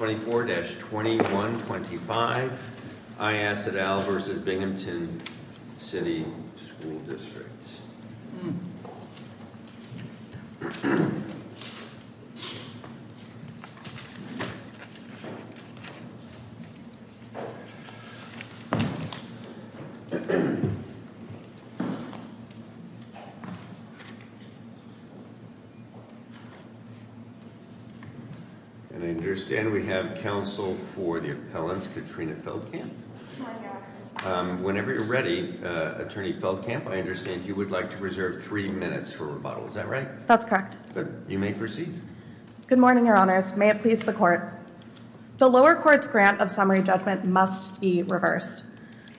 24-2125, I.S. v. Binghamton City School District. And I understand we have counsel for the appellants, Katrina Feldkamp. Whenever you're ready, Attorney Feldkamp, I understand you would like to reserve three minutes for rebuttal. Is that right? That's correct. Good. You may proceed. Good morning, Your Honors. May it please the Court. The lower court's grant of summary judgment must be reversed.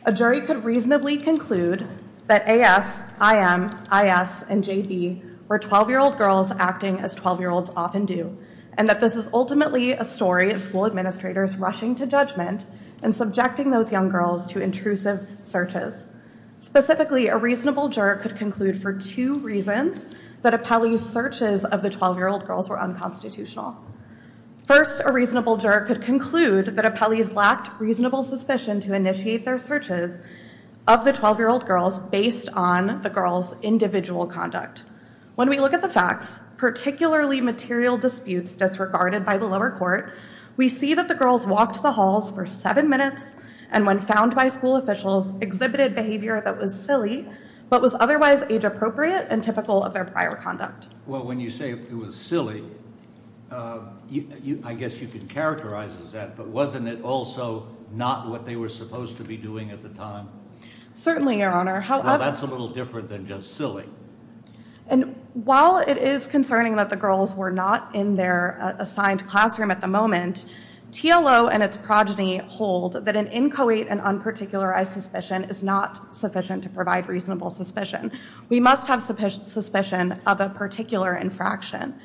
A jury could reasonably conclude that A.S., I.M., I.S., and J.B. were 12-year-old girls acting as 12-year-olds often do, and that this is ultimately a story of school administrators rushing to judgment and subjecting those young girls to intrusive searches. Specifically, a reasonable juror could conclude for two reasons that Apelli's searches of the 12-year-old girls were unconstitutional. First, a reasonable juror could conclude that Apelli's lacked reasonable suspicion to initiate their searches of the 12-year-old girls based on the girls' individual conduct. When we look at the facts, particularly material disputes disregarded by the lower court, we see that the girls walked the halls for seven minutes and, when found by school officials, exhibited behavior that was silly but was otherwise age-appropriate and typical of their prior conduct. Well, when you say it was silly, I guess you could characterize as that, but wasn't it also not what they were supposed to be doing at the time? Certainly, Your Honor. Well, that's a little different than just silly. And while it is concerning that the girls were not in their assigned classroom at the moment, TLO and its progeny hold that an inchoate and unparticularized suspicion is not sufficient to provide reasonable suspicion. We must have suspicion of a particular infraction.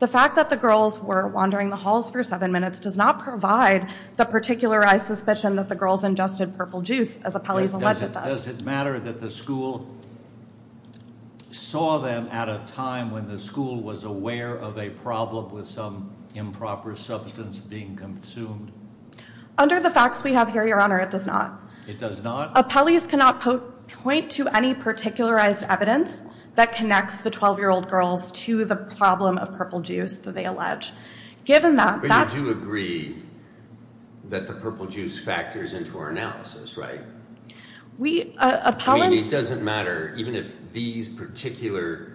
The fact that the girls were wandering the halls for seven minutes does not provide the particularized suspicion that the girls ingested purple juice, as Apelli's alleged does. Does it matter that the school saw them at a time when the school was aware of a problem with some improper substance being consumed? Under the facts we have here, Your Honor, it does not. It does not? Apelli's cannot point to any particularized evidence that connects the 12-year-old girls to the problem of purple juice that they allege. But you do agree that the purple juice factors into our analysis, right? We- I mean, it doesn't matter. Even if these particular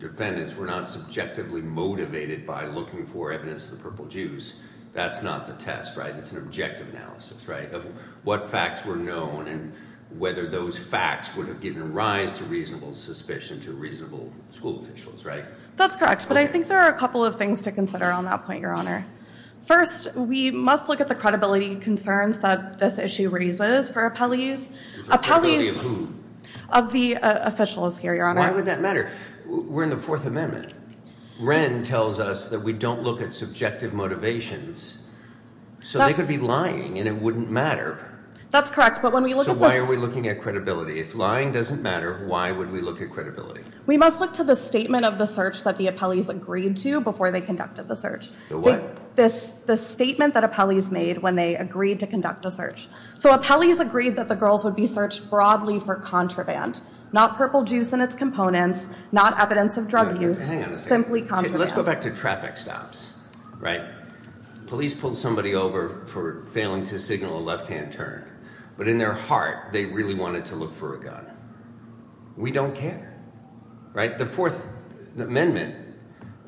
defendants were not subjectively motivated by looking for evidence of the purple juice, that's not the test, right? It's an objective analysis, right, of what facts were known and whether those facts would have given rise to reasonable suspicion to reasonable school officials, right? That's correct. But I think there are a couple of things to consider on that point, Your Honor. First, we must look at the credibility concerns that this issue raises for Apelli's. Apelli's- Credibility of who? Of the officials here, Your Honor. Why would that matter? We're in the Fourth Amendment. Wren tells us that we don't look at subjective motivations. So they could be lying and it wouldn't matter. That's correct. But when we look at this- So why are we looking at credibility? If lying doesn't matter, why would we look at credibility? We must look to the statement of the search that the Apelli's agreed to before they conducted the search. The what? The statement that Apelli's made when they agreed to conduct the search. So Apelli's agreed that the girls would be searched broadly for contraband, not purple juice in its components, not evidence of drug use. Hang on a second. Simply contraband. Let's go back to traffic stops, right? Police pulled somebody over for failing to signal a left-hand turn. But in their heart, they really wanted to look for a gun. We don't care, right? The Fourth Amendment,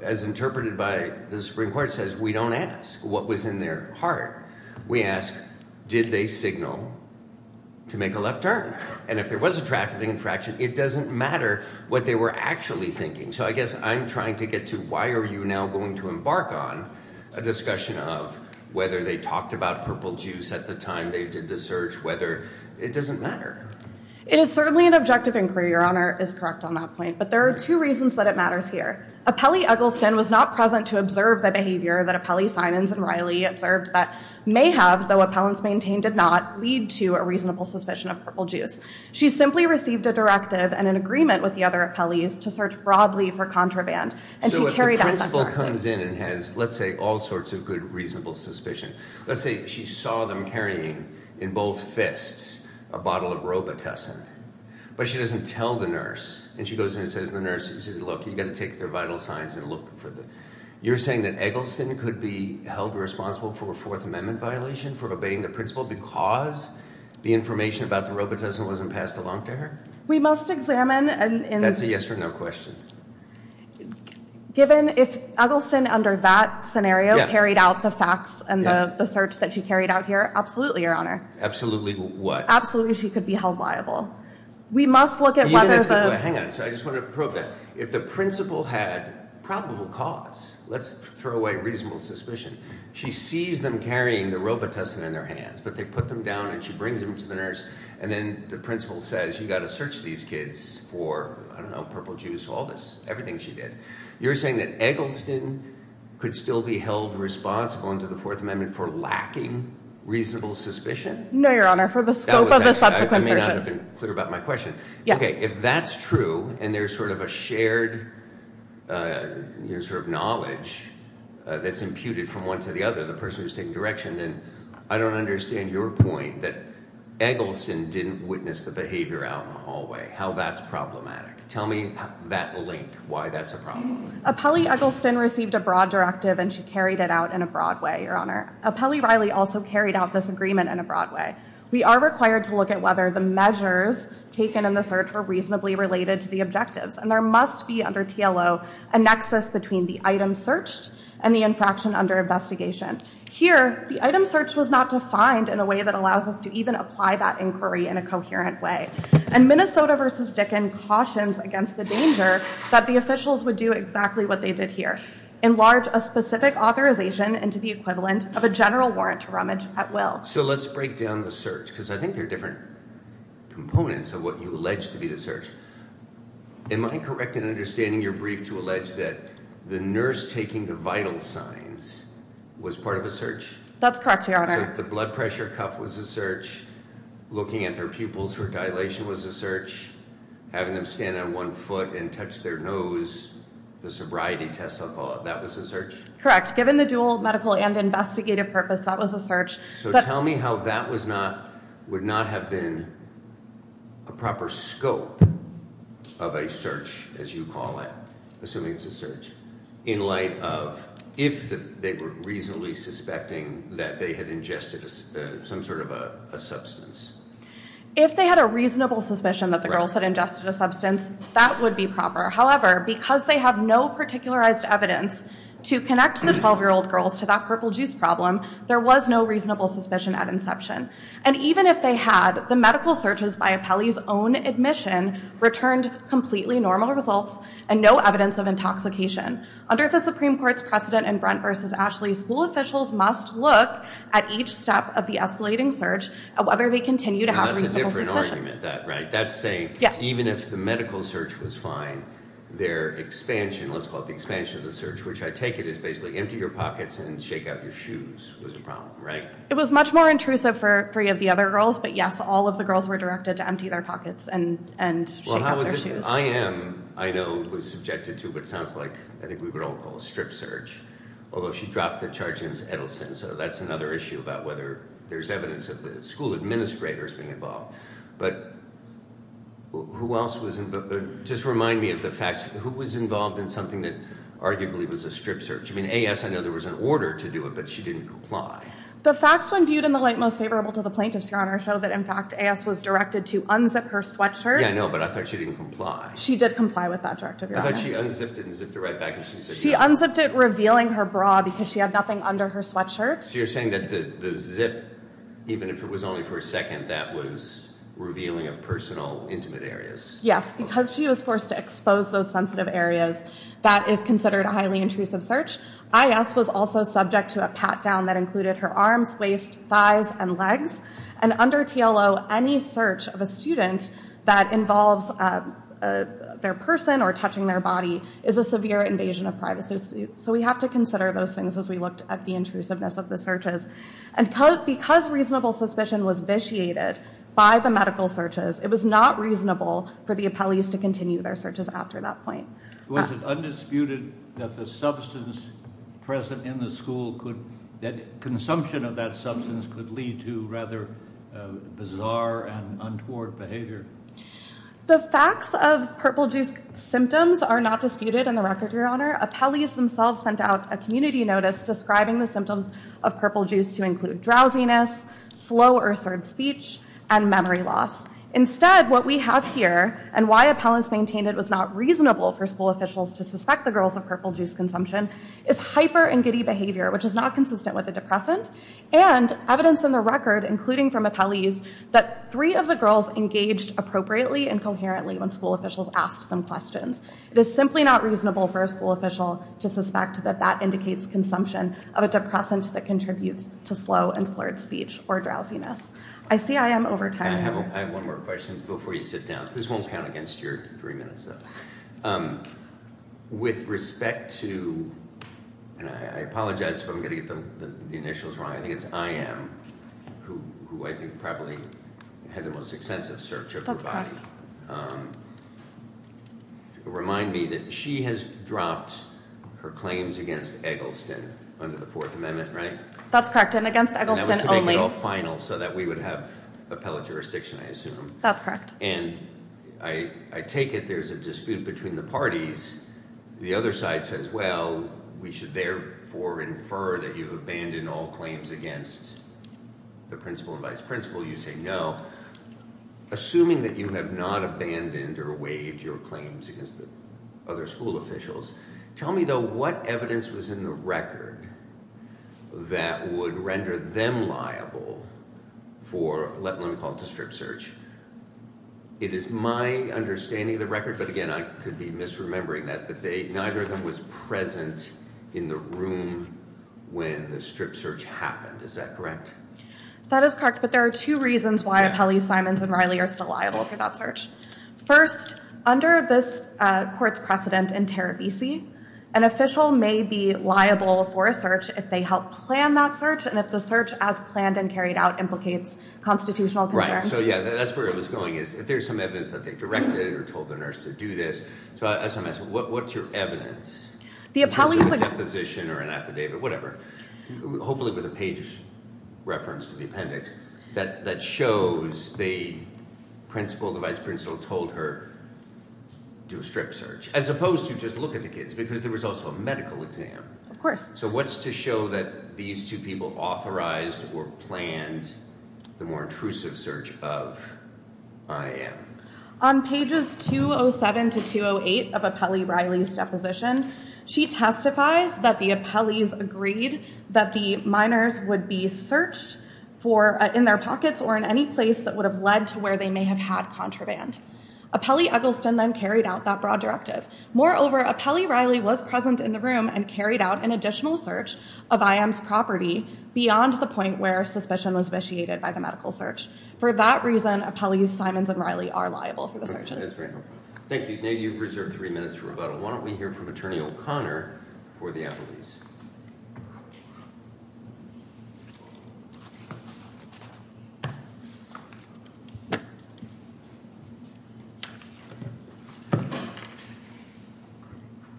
as interpreted by the Supreme Court, says we don't ask what was in their heart. We ask, did they signal to make a left turn? And if there was a traffic infraction, it doesn't matter what they were actually thinking. So I guess I'm trying to get to why are you now going to embark on a discussion of whether they talked about purple juice at the time they did the search, whether- it doesn't matter. It is certainly an objective inquiry. Your Honor is correct on that point. But there are two reasons that it matters here. Apelli Eggleston was not present to observe the behavior that Apelli, Simons, and Riley observed that may have, though appellants maintained did not, lead to a reasonable suspicion of purple juice. She simply received a directive and an agreement with the other Apelli's to search broadly for contraband. And she carried out that directive. So if the principal comes in and has, let's say, all sorts of good, reasonable suspicion. Let's say she saw them carrying in both fists a bottle of Robitussin. But she doesn't tell the nurse. And she goes in and says to the nurse, look, you've got to take their vital signs and look for them. You're saying that Eggleston could be held responsible for a Fourth Amendment violation for obeying the principal because the information about the Robitussin wasn't passed along to her? We must examine and- That's a yes or no question. Given if Eggleston, under that scenario, carried out the facts and the search that she carried out here, absolutely, Your Honor. Absolutely what? Absolutely she could be held liable. We must look at whether the- Hang on. I just want to probe that. If the principal had probable cause, let's throw away reasonable suspicion. She sees them carrying the Robitussin in their hands. But they put them down and she brings them to the nurse. And then the principal says, you've got to search these kids for, I don't know, purple juice, all this, everything she did. You're saying that Eggleston could still be held responsible under the Fourth Amendment for lacking reasonable suspicion? No, Your Honor. For the scope of the subsequent searches. I may not have been clear about my question. Yes. Okay, if that's true and there's sort of a shared sort of knowledge that's imputed from one to the other, the person who's taking direction, then I don't understand your point that Eggleston didn't witness the behavior out in the hallway, how that's problematic. Tell me that link, why that's a problem. Appelli Eggleston received a broad directive and she carried it out in a broad way, Your Honor. Appelli Riley also carried out this agreement in a broad way. We are required to look at whether the measures taken in the search were reasonably related to the objectives. And there must be under TLO a nexus between the item searched and the infraction under investigation. Here, the item search was not defined in a way that allows us to even apply that inquiry in a coherent way. And Minnesota v. Dickin cautions against the danger that the officials would do exactly what they did here. Enlarge a specific authorization into the equivalent of a general warrant to rummage at will. So let's break down the search, because I think there are different components of what you allege to be the search. Am I correct in understanding your brief to allege that the nurse taking the vital signs was part of a search? That's correct, Your Honor. So the blood pressure cuff was a search, looking at their pupils for dilation was a search, having them stand on one foot and touch their nose, the sobriety test, I'll call it, that was a search? Correct. Given the dual medical and investigative purpose, that was a search. So tell me how that would not have been a proper scope of a search, as you call it, assuming it's a search, in light of if they were reasonably suspecting that they had ingested some sort of a substance. If they had a reasonable suspicion that the girls had ingested a substance, that would be proper. However, because they have no particularized evidence to connect the 12-year-old girls to that purple juice problem, there was no reasonable suspicion at inception. And even if they had, the medical searches by Apelli's own admission returned completely normal results and no evidence of intoxication. Under the Supreme Court's precedent in Brent v. Ashley, school officials must look at each step of the escalating search, whether they continue to have reasonable suspicion. Now that's a different argument, that, right? That's saying even if the medical search was fine, their expansion, let's call it the expansion of the search, which I take it is basically empty your pockets and shake out your shoes was a problem, right? It was much more intrusive for three of the other girls, but yes, all of the girls were directed to empty their pockets and shake out their shoes. Well, how was it? IM, I know, was subjected to what sounds like, I think we would all call a strip search, although she dropped the charge against Edelson, so that's another issue about whether there's evidence of the school administrators being involved. But who else was involved? Just remind me of the facts. Who was involved in something that arguably was a strip search? I mean, A.S., I know there was an order to do it, but she didn't comply. The facts when viewed in the light most favorable to the plaintiffs, Your Honor, show that in fact A.S. was directed to unzip her sweatshirt. Yeah, I know, but I thought she didn't comply. She did comply with that directive, Your Honor. I thought she unzipped it and zipped it right back. She unzipped it, revealing her bra because she had nothing under her sweatshirt. So you're saying that the zip, even if it was only for a second, that was revealing of personal intimate areas. Yes, because she was forced to expose those sensitive areas, that is considered a highly intrusive search. I.S. was also subject to a pat-down that included her arms, waist, thighs, and legs. And under TLO, any search of a student that involves their person or touching their body is a severe invasion of privacy. So we have to consider those things as we looked at the intrusiveness of the searches. And because reasonable suspicion was vitiated by the medical searches, it was not reasonable for the appellees to continue their searches after that point. Was it undisputed that the substance present in the school, that consumption of that substance could lead to rather bizarre and untoward behavior? The facts of purple juice symptoms are not disputed in the record, Your Honor. Appellees themselves sent out a community notice describing the symptoms of purple juice to include drowsiness, slow or absurd speech, and memory loss. Instead, what we have here, and why appellants maintained it was not reasonable for school officials to suspect the girls of purple juice consumption, is hyper and giddy behavior, which is not consistent with a depressant, and evidence in the record, including from appellees, that three of the girls engaged appropriately and coherently when school officials asked them questions. It is simply not reasonable for a school official to suspect that that indicates consumption of a depressant that contributes to slow and slurred speech or drowsiness. I see I am over time. I have one more question before you sit down. This won't count against your three minutes, though. With respect to, and I apologize if I'm going to get the initials wrong. I think it's I am, who I think probably had the most extensive search of her body. Remind me that she has dropped her claims against Eggleston under the Fourth Amendment, right? That's correct, and against Eggleston only. And that was to make it all final so that we would have appellate jurisdiction, I assume. That's correct. And I take it there's a dispute between the parties. The other side says, well, we should therefore infer that you've abandoned all claims against the principal and vice principal. You say no. Assuming that you have not abandoned or waived your claims against other school officials, tell me, though, what evidence was in the record that would render them liable for, let me call it a strip search. It is my understanding of the record, but again, I could be misremembering that, that neither of them was present in the room when the strip search happened. Is that correct? That is correct, but there are two reasons why Apelli, Simons, and Riley are still liable for that search. First, under this court's precedent in Terebisi, an official may be liable for a search if they help plan that search and if the search as planned and carried out implicates constitutional concerns. Right, so yeah, that's where it was going is if there's some evidence that they directed or told the nurse to do this. So that's what I'm asking. What's your evidence? A deposition or an affidavit, whatever, hopefully with a page reference to the appendix that shows the principal, the vice principal, told her to do a strip search as opposed to just look at the kids because there was also a medical exam. Of course. So what's to show that these two people authorized or planned the more intrusive search of IM? On pages 207 to 208 of Apelli-Riley's deposition, she testifies that the Apelli's agreed that the minors would be searched for in their pockets or in any place that would have led to where they may have had contraband. Apelli-Eggleston then carried out that broad directive. Moreover, Apelli-Riley was present in the room and carried out an additional search of IM's property beyond the point where suspicion was vitiated by the medical search. For that reason, Apelli's, Simons, and Riley are liable for the searches. Thank you. Now you've reserved three minutes for rebuttal. Why don't we hear from Attorney O'Connor for the appellees?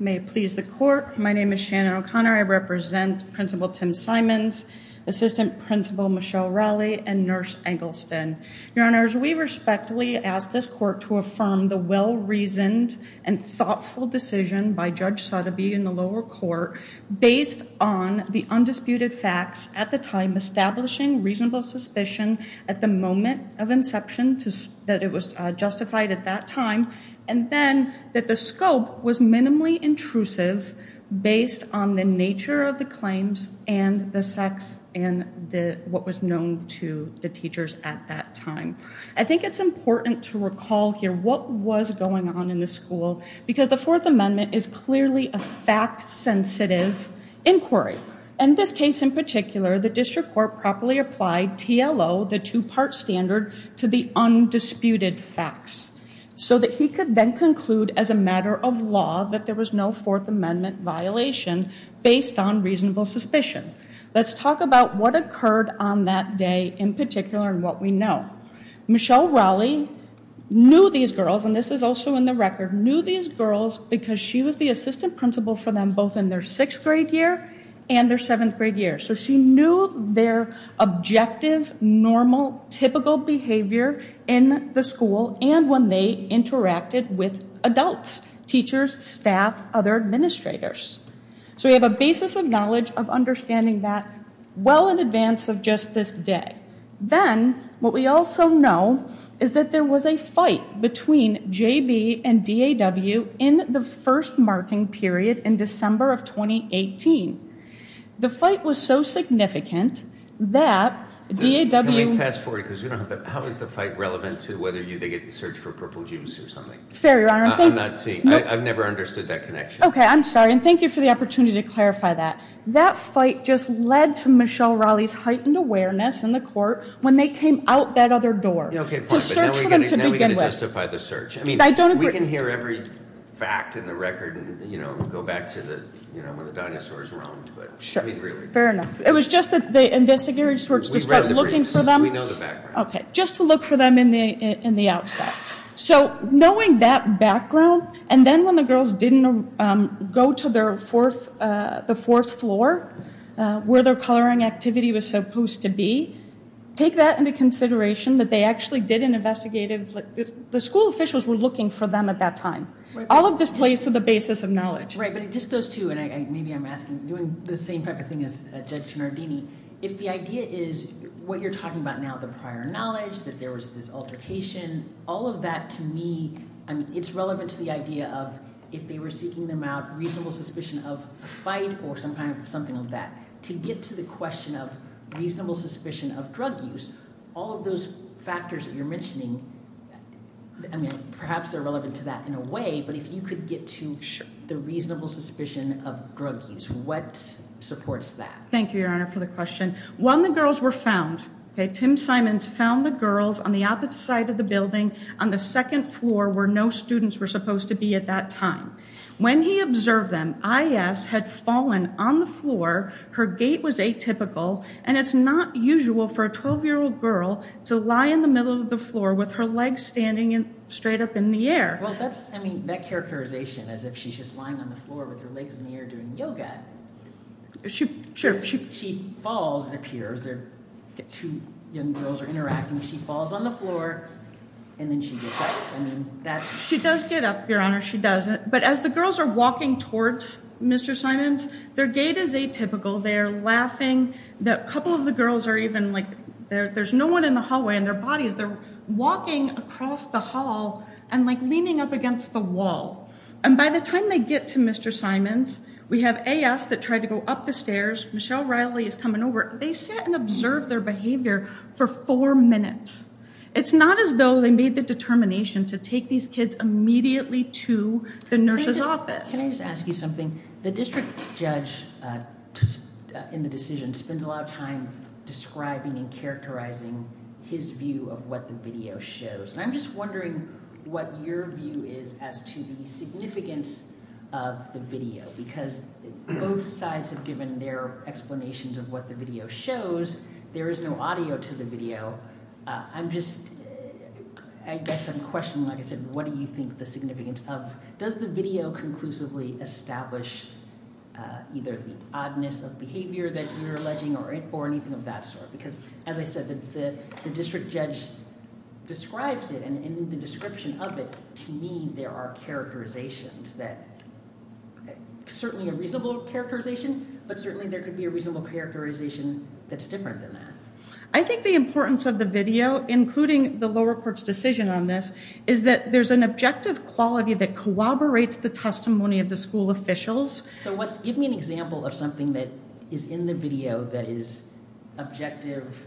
May it please the court. My name is Shannon O'Connor. I represent Principal Tim Simons, Assistant Principal Michelle Riley, and Nurse Eggleston. Your Honors, we respectfully ask this court to affirm the well-reasoned and thoughtful decision by Judge Sotheby in the lower court based on the undisputed facts at the time, establishing reasonable suspicion at the moment of inception that it was justified at that time, and then that the scope was minimally intrusive based on the nature of the claims and the sex and what was known to the teachers at that time. I think it's important to recall here what was going on in the school because the Fourth Amendment is clearly a fact-sensitive inquiry. In this case in particular, the district court properly applied TLO, the two-part standard, to the undisputed facts so that he could then conclude as a matter of law that there was no Fourth Amendment violation based on reasonable suspicion. Let's talk about what occurred on that day in particular and what we know. Michelle Riley knew these girls, and this is also in the record, knew these girls because she was the assistant principal for them both in their sixth grade year and their seventh grade year. So she knew their objective, normal, typical behavior in the school and when they interacted with adults, teachers, staff, other administrators. So we have a basis of knowledge of understanding that well in advance of just this day. Then what we also know is that there was a fight between JB and DAW in the first marking period in December of 2018. The fight was so significant that DAW- Can we fast forward because we don't have the, how is the fight relevant to whether they get the search for purple juice or something? Fair, Your Honor. I'm not seeing, I've never understood that connection. Okay, I'm sorry and thank you for the opportunity to clarify that. That fight just led to Michelle Riley's heightened awareness in the court when they came out that other door. Okay, fine. To search for them to begin with. Now we've got to justify the search. I don't agree. We can hear every fact in the record and go back to when the dinosaurs roamed. Sure. Fair enough. It was just that the investigators just weren't looking for them. We know the background. Okay, just to look for them in the outset. So knowing that background and then when the girls didn't go to their fourth, the fourth floor, where their coloring activity was supposed to be, take that into consideration that they actually did an investigative, the school officials were looking for them at that time. All of this plays to the basis of knowledge. Right, but it just goes to, and maybe I'm asking, doing the same type of thing as Judge Cianardini, if the idea is what you're talking about now, the prior knowledge, that there was this altercation, all of that to me, it's relevant to the idea of if they were seeking them out, reasonable suspicion of a fight or something of that. To get to the question of reasonable suspicion of drug use, all of those factors that you're mentioning, perhaps they're relevant to that in a way, but if you could get to the reasonable suspicion of drug use, what supports that? Thank you, Your Honor, for the question. When the girls were found, okay, Tim Simons found the girls on the opposite side of the building, on the second floor where no students were supposed to be at that time. When he observed them, IS had fallen on the floor, her gait was atypical, and it's not usual for a 12-year-old girl to lie in the middle of the floor with her legs standing straight up in the air. Well, that's, I mean, that characterization as if she's just lying on the floor with her legs in the air doing yoga. Sure. She falls and appears. Two young girls are interacting. She falls on the floor, and then she gets up. I mean, that's- She does get up, Your Honor. She does. But as the girls are walking towards Mr. Simons, their gait is atypical. They are laughing. A couple of the girls are even, like, there's no one in the hallway, and their bodies, they're walking across the hall and, like, leaning up against the wall. And by the time they get to Mr. Simons, we have AS that tried to go up the stairs. Michelle Riley is coming over. They sat and observed their behavior for four minutes. It's not as though they made the determination to take these kids immediately to the nurse's office. Can I just ask you something? The district judge in the decision spends a lot of time describing and characterizing his view of what the video shows, and I'm just wondering what your view is as to the significance of the video, because both sides have given their explanations of what the video shows. There is no audio to the video. I'm just-I guess I'm questioning, like I said, what do you think the significance of- does the video conclusively establish either the oddness of behavior that you're alleging or anything of that sort? Because, as I said, the district judge describes it, and in the description of it, to me, there are characterizations that-certainly a reasonable characterization, but certainly there could be a reasonable characterization that's different than that. I think the importance of the video, including the lower court's decision on this, is that there's an objective quality that corroborates the testimony of the school officials. So give me an example of something that is in the video that is objective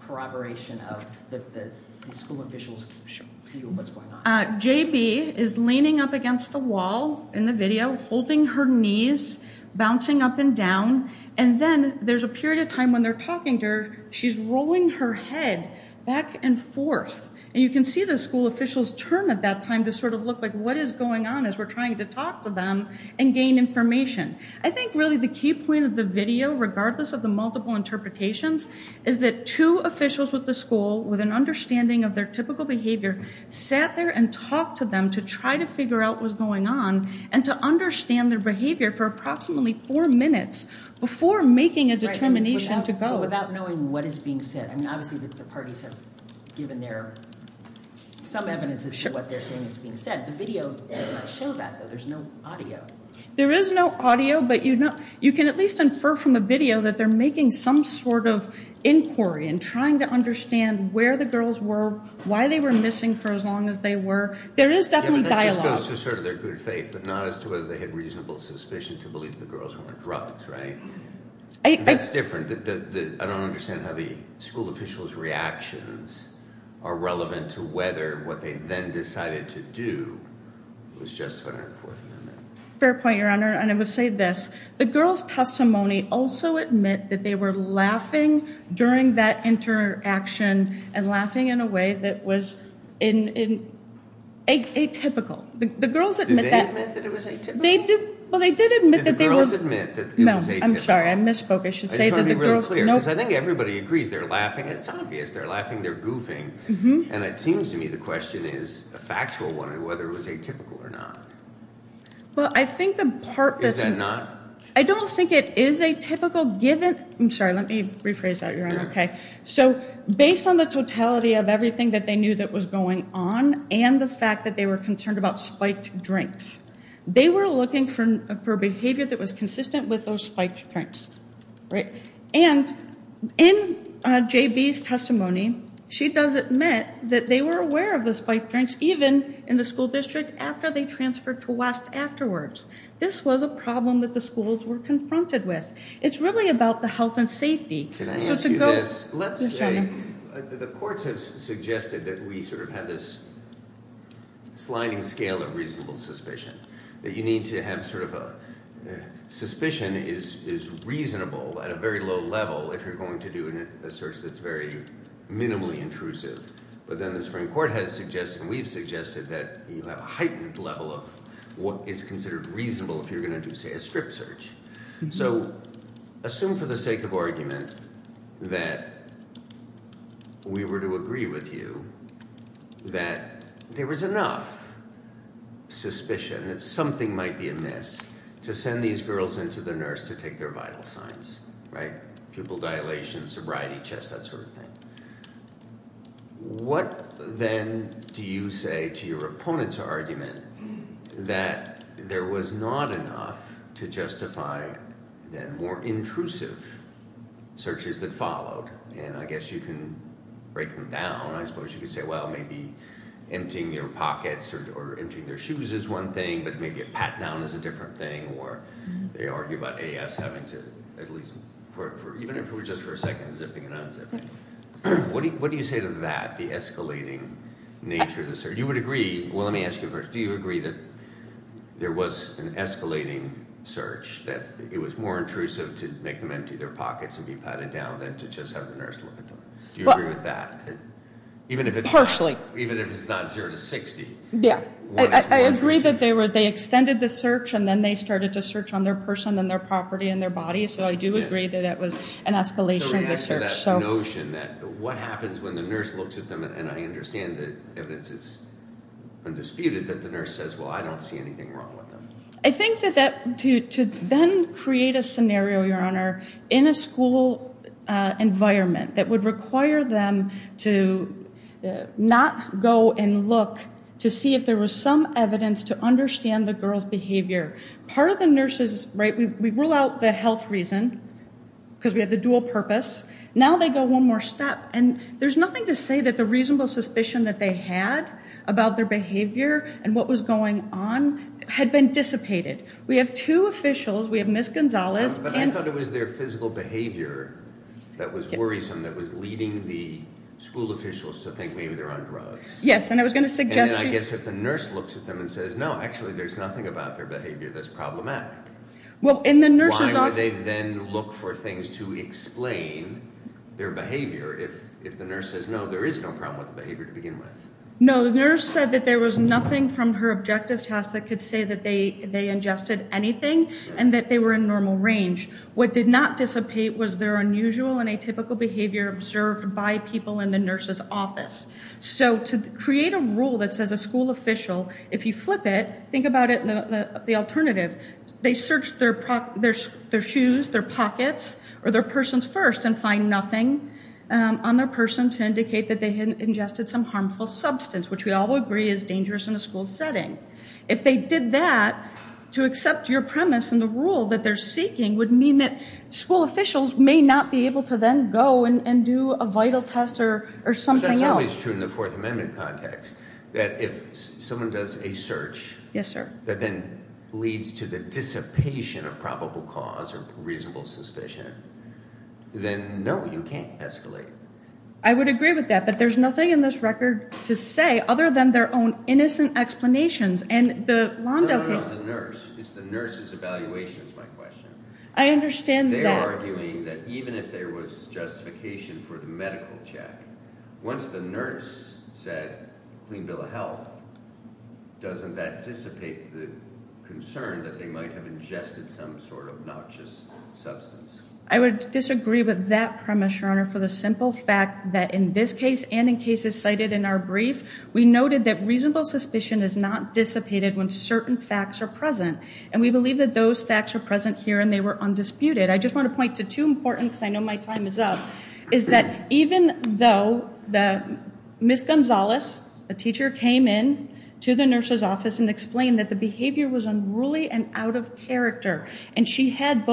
corroboration of the school officials' view of what's going on. JB is leaning up against the wall in the video, holding her knees, bouncing up and down, and then there's a period of time when they're talking to her. She's rolling her head back and forth, and you can see the school officials turn at that time to sort of look like what is going on as we're trying to talk to them and gain information. I think really the key point of the video, regardless of the multiple interpretations, is that two officials with the school, with an understanding of their typical behavior, sat there and talked to them to try to figure out what's going on and to understand their behavior for approximately four minutes before making a determination to go. Without knowing what is being said. I mean, obviously the parties have given their, some evidence of what they're saying is being said. The video does not show that, though. There's no audio. There is no audio, but you can at least infer from the video that they're making some sort of inquiry and trying to understand where the girls were, why they were missing for as long as they were. There is definitely dialogue. Yeah, but that just goes to sort of their good faith, but not as to whether they had reasonable suspicion to believe the girls were on drugs, right? That's different. I don't understand how the school officials' reactions are relevant to whether what they then decided to do was just to honor the Fourth Amendment. Fair point, Your Honor, and I would say this. The girls' testimony also admit that they were laughing during that interaction and laughing in a way that was atypical. Did they admit that it was atypical? Did the girls admit that it was atypical? No, I'm sorry. I misspoke. I should say that the girls... I just want to be really clear, because I think everybody agrees they're laughing. It's obvious they're laughing. They're goofing, and it seems to me the question is a factual one, whether it was atypical or not. Well, I think the part that's... Is that not? I don't think it is atypical, given... I'm sorry. Let me rephrase that, Your Honor. Okay. So, based on the totality of everything that they knew that was going on and the fact that they were concerned about spiked drinks, they were looking for behavior that was consistent with those spiked drinks, right? And in J.B.'s testimony, she does admit that they were aware of the spiked drinks, even in the school district after they transferred to West afterwards. This was a problem that the schools were confronted with. It's really about the health and safety. Can I ask you this? So, to go... Yes, Your Honor. I think the courts have suggested that we sort of have this sliding scale of reasonable suspicion, that you need to have sort of a... Suspicion is reasonable at a very low level if you're going to do a search that's very minimally intrusive. But then the Supreme Court has suggested, and we've suggested, that you have a heightened level of what is considered reasonable if you're going to do, say, a strip search. So, assume for the sake of argument that we were to agree with you that there was enough suspicion that something might be amiss to send these girls into the nurse to take their vital signs, right? Pupil dilation, sobriety, chest, that sort of thing. What, then, do you say to your opponent's argument that there was not enough to justify, then, more intrusive searches that followed? And I guess you can break them down. I suppose you could say, well, maybe emptying your pockets or emptying their shoes is one thing, but maybe a pat-down is a different thing, or they argue about AS having to at least, even if it was just for a second, zipping and unzipping. What do you say to that, the escalating nature of the search? You would agree, well, let me ask you first. Do you agree that there was an escalating search, that it was more intrusive to make them empty their pockets and be patted down than to just have the nurse look at them? Do you agree with that? Partially. Even if it's not zero to 60? Yeah. I agree that they extended the search, and then they started to search on their person and their property and their body, so I do agree that that was an escalation of the search. So what happens when the nurse looks at them, and I understand the evidence is undisputed, that the nurse says, well, I don't see anything wrong with them? I think that to then create a scenario, Your Honor, in a school environment that would require them to not go and look to see if there was some evidence to understand the girl's behavior. Part of the nurse's, right, we rule out the health reason because we have the dual purpose. Now they go one more step, and there's nothing to say that the reasonable suspicion that they had about their behavior and what was going on had been dissipated. We have two officials. We have Ms. Gonzalez. But I thought it was their physical behavior that was worrisome, that was leading the school officials to think maybe they're on drugs. Yes, and I was going to suggest to you. And I guess if the nurse looks at them and says, no, actually there's nothing about their behavior that's problematic, why would they then look for things to explain their behavior if the nurse says, no, there is no problem with the behavior to begin with? No, the nurse said that there was nothing from her objective test that could say that they ingested anything and that they were in normal range. What did not dissipate was their unusual and atypical behavior observed by people in the nurse's office. So to create a rule that says a school official, if you flip it, think about it in the alternative. They searched their shoes, their pockets, or their persons first and find nothing on their person to indicate that they had ingested some harmful substance, which we all agree is dangerous in a school setting. If they did that, to accept your premise in the rule that they're seeking would mean that school officials may not be able to then go and do a vital test or something else. But that's always true in the Fourth Amendment context. That if someone does a search that then leads to the dissipation of probable cause or reasonable suspicion, then no, you can't escalate. I would agree with that, but there's nothing in this record to say other than their own innocent explanations. No, no, no, the nurse. It's the nurse's evaluation is my question. I understand that. They're arguing that even if there was justification for the medical check, once the nurse said clean bill of health, doesn't that dissipate the concern that they might have ingested some sort of noxious substance? I would disagree with that premise, Your Honor, for the simple fact that in this case and in cases cited in our brief, we noted that reasonable suspicion is not dissipated when certain facts are present. And we believe that those facts are present here and they were undisputed. I just want to point to two important, because I know my time is up, is that even though Ms. Gonzalez, a teacher, came in to the nurse's office and explained that the behavior was unruly and out of character, and she had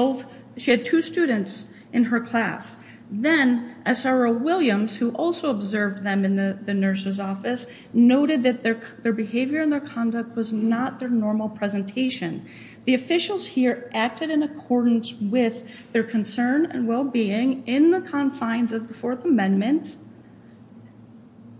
two students in her class, then SRO Williams, who also observed them in the nurse's office, noted that their behavior and their conduct was not their normal presentation. The officials here acted in accordance with their concern and well-being in the confines of the Fourth Amendment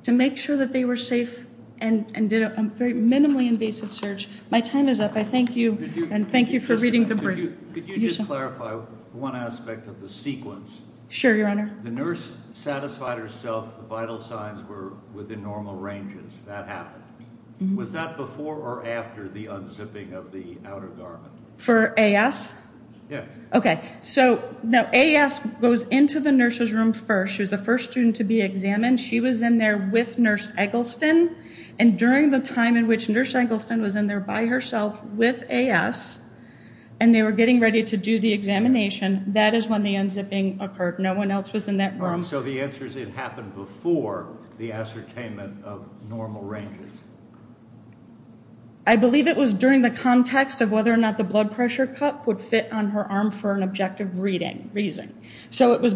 to make sure that they were safe and did a very minimally invasive search. My time is up. I thank you and thank you for reading the brief. Could you just clarify one aspect of the sequence? Sure, Your Honor. The nurse satisfied herself the vital signs were within normal ranges. That happened. Was that before or after the unzipping of the outer garment? For AS? Yes. Okay. So now AS goes into the nurse's room first. She was the first student to be examined. She was in there with Nurse Eggleston. And during the time in which Nurse Eggleston was in there by herself with AS and they were getting ready to do the examination, that is when the unzipping occurred. No one else was in that room. So the answer is it happened before the ascertainment of normal ranges. I believe it was during the context of whether or not the blood pressure cup would fit on her arm for an objective reason. So it was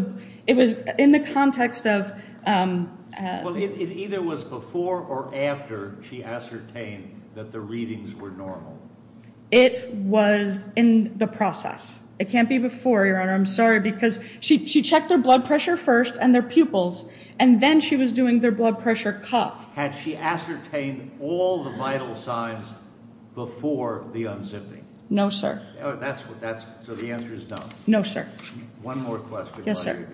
in the context of ______. Well, it either was before or after she ascertained that the readings were normal. It was in the process. It can't be before, Your Honor. I'm sorry because she checked their blood pressure first and their pupils, and then she was doing their blood pressure cup. Had she ascertained all the vital signs before the unzipping? No, sir. So the answer is no. No, sir. One more question. Yes, sir.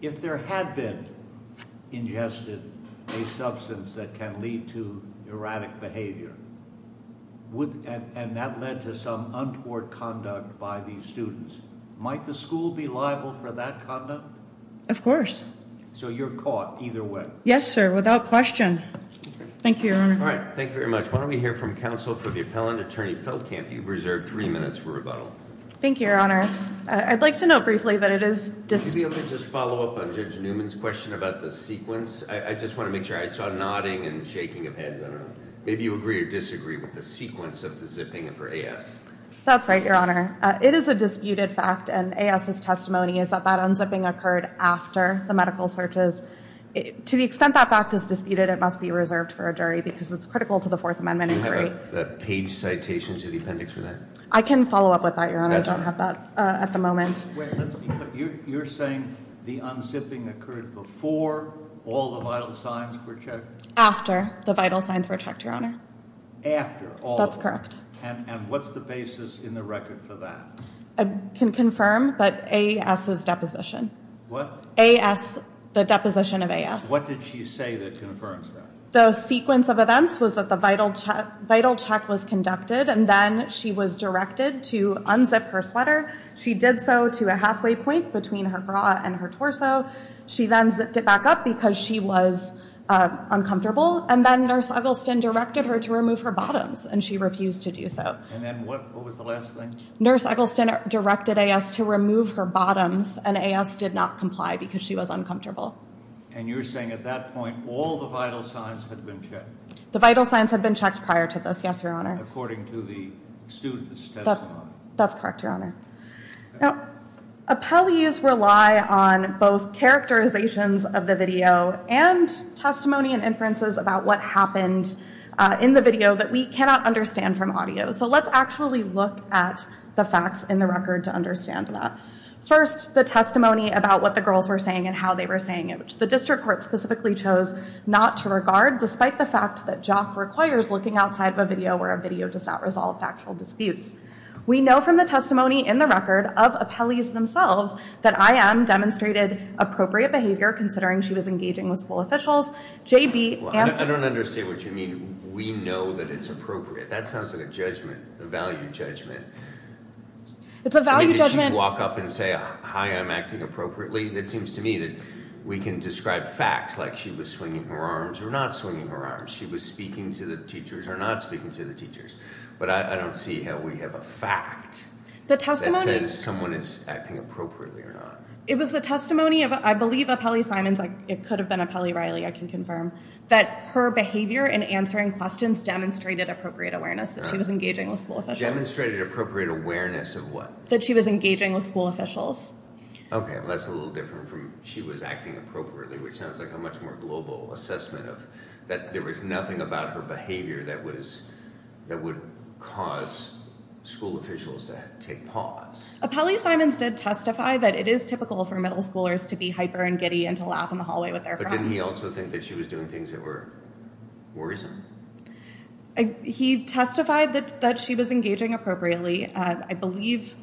If there had been ingested a substance that can lead to erratic behavior and that led to some untoward conduct by these students, might the school be liable for that conduct? Of course. So you're caught either way? Yes, sir, without question. Thank you, Your Honor. All right. Thank you very much. Why don't we hear from counsel for the appellant, Attorney Feldkamp. You've reserved three minutes for rebuttal. Thank you, Your Honor. I'd like to note briefly that it is Could you be able to just follow up on Judge Newman's question about the sequence? I just want to make sure. I saw nodding and shaking of hands. I don't know. Maybe you agree or disagree with the sequence of the zipping for AS. That's right, Your Honor. It is a disputed fact, and AS's testimony is that that unzipping occurred after the medical searches. To the extent that fact is disputed, it must be reserved for a jury because it's critical to the Fourth Amendment inquiry. Do you have a page citation to the appendix for that? I can follow up with that, Your Honor. I don't have that at the moment. You're saying the unzipping occurred before all the vital signs were checked? After the vital signs were checked, Your Honor. After all of them? That's correct. And what's the basis in the record for that? I can confirm, but AS's deposition. What? AS, the deposition of AS. What did she say that confirms that? The sequence of events was that the vital check was conducted, and then she was directed to unzip her sweater. She did so to a halfway point between her bra and her torso. She then zipped it back up because she was uncomfortable. And then Nurse Eggleston directed her to remove her bottoms, and she refused to do so. And then what was the last thing? Nurse Eggleston directed AS to remove her bottoms, and AS did not comply because she was uncomfortable. And you're saying at that point all the vital signs had been checked? The vital signs had been checked prior to this, yes, Your Honor. According to the student's testimony? That's correct, Your Honor. Now, appellees rely on both characterizations of the video and testimony and inferences about what happened in the video that we cannot understand from audio. So let's actually look at the facts in the record to understand that. First, the testimony about what the girls were saying and how they were saying it, which the district court specifically chose not to regard, despite the fact that JOC requires looking outside of a video where a video does not resolve factual disputes. We know from the testimony in the record of appellees themselves that IM demonstrated appropriate behavior, considering she was engaging with school officials. JB answered- I don't understand what you mean, we know that it's appropriate. That sounds like a judgment, a value judgment. It's a value judgment- Did she walk up and say, hi, I'm acting appropriately? It seems to me that we can describe facts like she was swinging her arms or not swinging her arms, she was speaking to the teachers or not speaking to the teachers, but I don't see how we have a fact- The testimony- That says someone is acting appropriately or not. It was the testimony of, I believe, Appellee Simons, it could have been Appellee Riley, I can confirm, that her behavior in answering questions demonstrated appropriate awareness that she was engaging with school officials. Demonstrated appropriate awareness of what? That she was engaging with school officials. Okay, well that's a little different from she was acting appropriately, which sounds like a much more global assessment of that there was nothing about her behavior that would cause school officials to take pause. Appellee Simons did testify that it is typical for middle schoolers to be hyper and giddy and to laugh in the hallway with their friends. But didn't he also think that she was doing things that were worrisome? He testified that she was engaging appropriately. I believe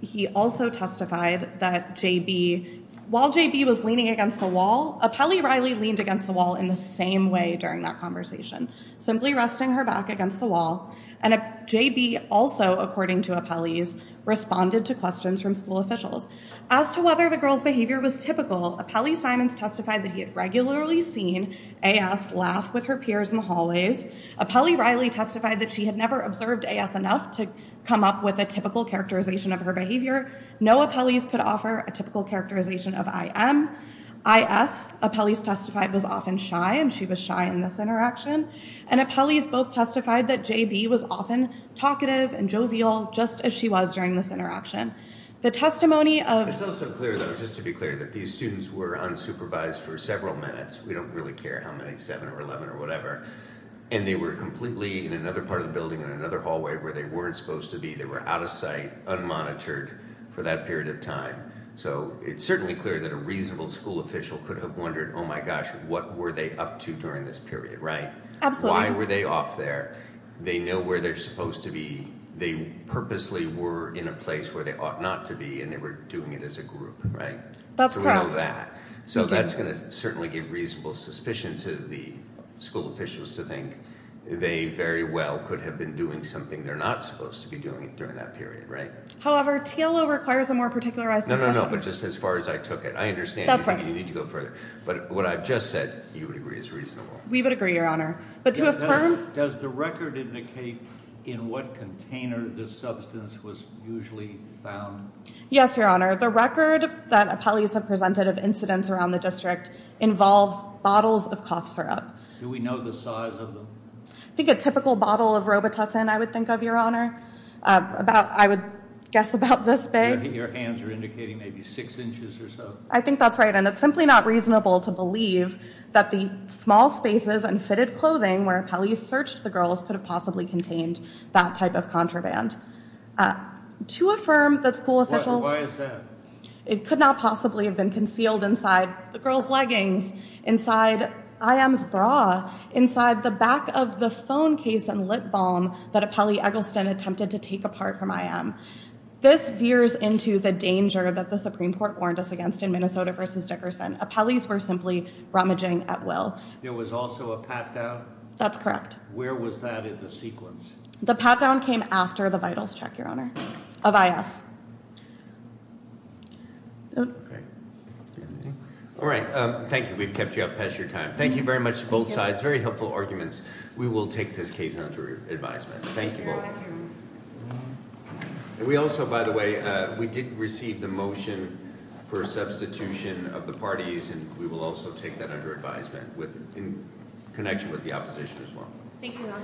he also testified that J.B., while J.B. was leaning against the wall, Appellee Riley leaned against the wall in the same way during that conversation, simply resting her back against the wall. And J.B. also, according to Appellee's, responded to questions from school officials. As to whether the girl's behavior was typical, Appellee Simons testified that he had regularly seen A.S. laugh with her peers in the hallways. Appellee Riley testified that she had never observed A.S. enough to come up with a typical characterization of her behavior. No Appellee's could offer a typical characterization of I.M. I.S., Appellee's testified, was often shy, and she was shy in this interaction. And Appellee's both testified that J.B. was often talkative and jovial, just as she was during this interaction. The testimony of- It's also clear, though, just to be clear, that these students were unsupervised for several minutes. We don't really care how many, 7 or 11 or whatever. And they were completely in another part of the building, in another hallway, where they weren't supposed to be. They were out of sight, unmonitored for that period of time. So it's certainly clear that a reasonable school official could have wondered, oh my gosh, what were they up to during this period, right? Absolutely. Why were they off there? They know where they're supposed to be. They purposely were in a place where they ought not to be, and they were doing it as a group, right? That's correct. So that's going to certainly give reasonable suspicion to the school officials to think they very well could have been doing something they're not supposed to be doing during that period, right? However, TLO requires a more particularized discussion. No, no, no, but just as far as I took it. I understand. You need to go further. But what I've just said, you would agree, is reasonable. We would agree, Your Honor. But to affirm- Does the record indicate in what container this substance was usually found? Yes, Your Honor. The record that appellees have presented of incidents around the district involves bottles of cough syrup. Do we know the size of them? I think a typical bottle of Robitussin, I would think of, Your Honor. I would guess about this big. Your hands are indicating maybe six inches or so. I think that's right, and it's simply not reasonable to believe that the small spaces and fitted clothing where appellees searched the girls could have possibly contained that type of contraband. To affirm that school officials- Why is that? It could not possibly have been concealed inside the girls' leggings, inside I.M.'s bra, inside the back of the phone case and lip balm that appellee Eggleston attempted to take apart from I.M. This veers into the danger that the Supreme Court warned us against in Minnesota v. Dickerson. Appellees were simply rummaging at will. There was also a pat-down? That's correct. Where was that in the sequence? The pat-down came after the vitals check, Your Honor, of I.S. All right. Thank you. We've kept you up past your time. Thank you very much to both sides. Very helpful arguments. We will take this case under advisement. Thank you both. We also, by the way, we did receive the motion for substitution of the parties, and we will also take that under advisement in connection with the opposition as well. Thank you, Your Honor.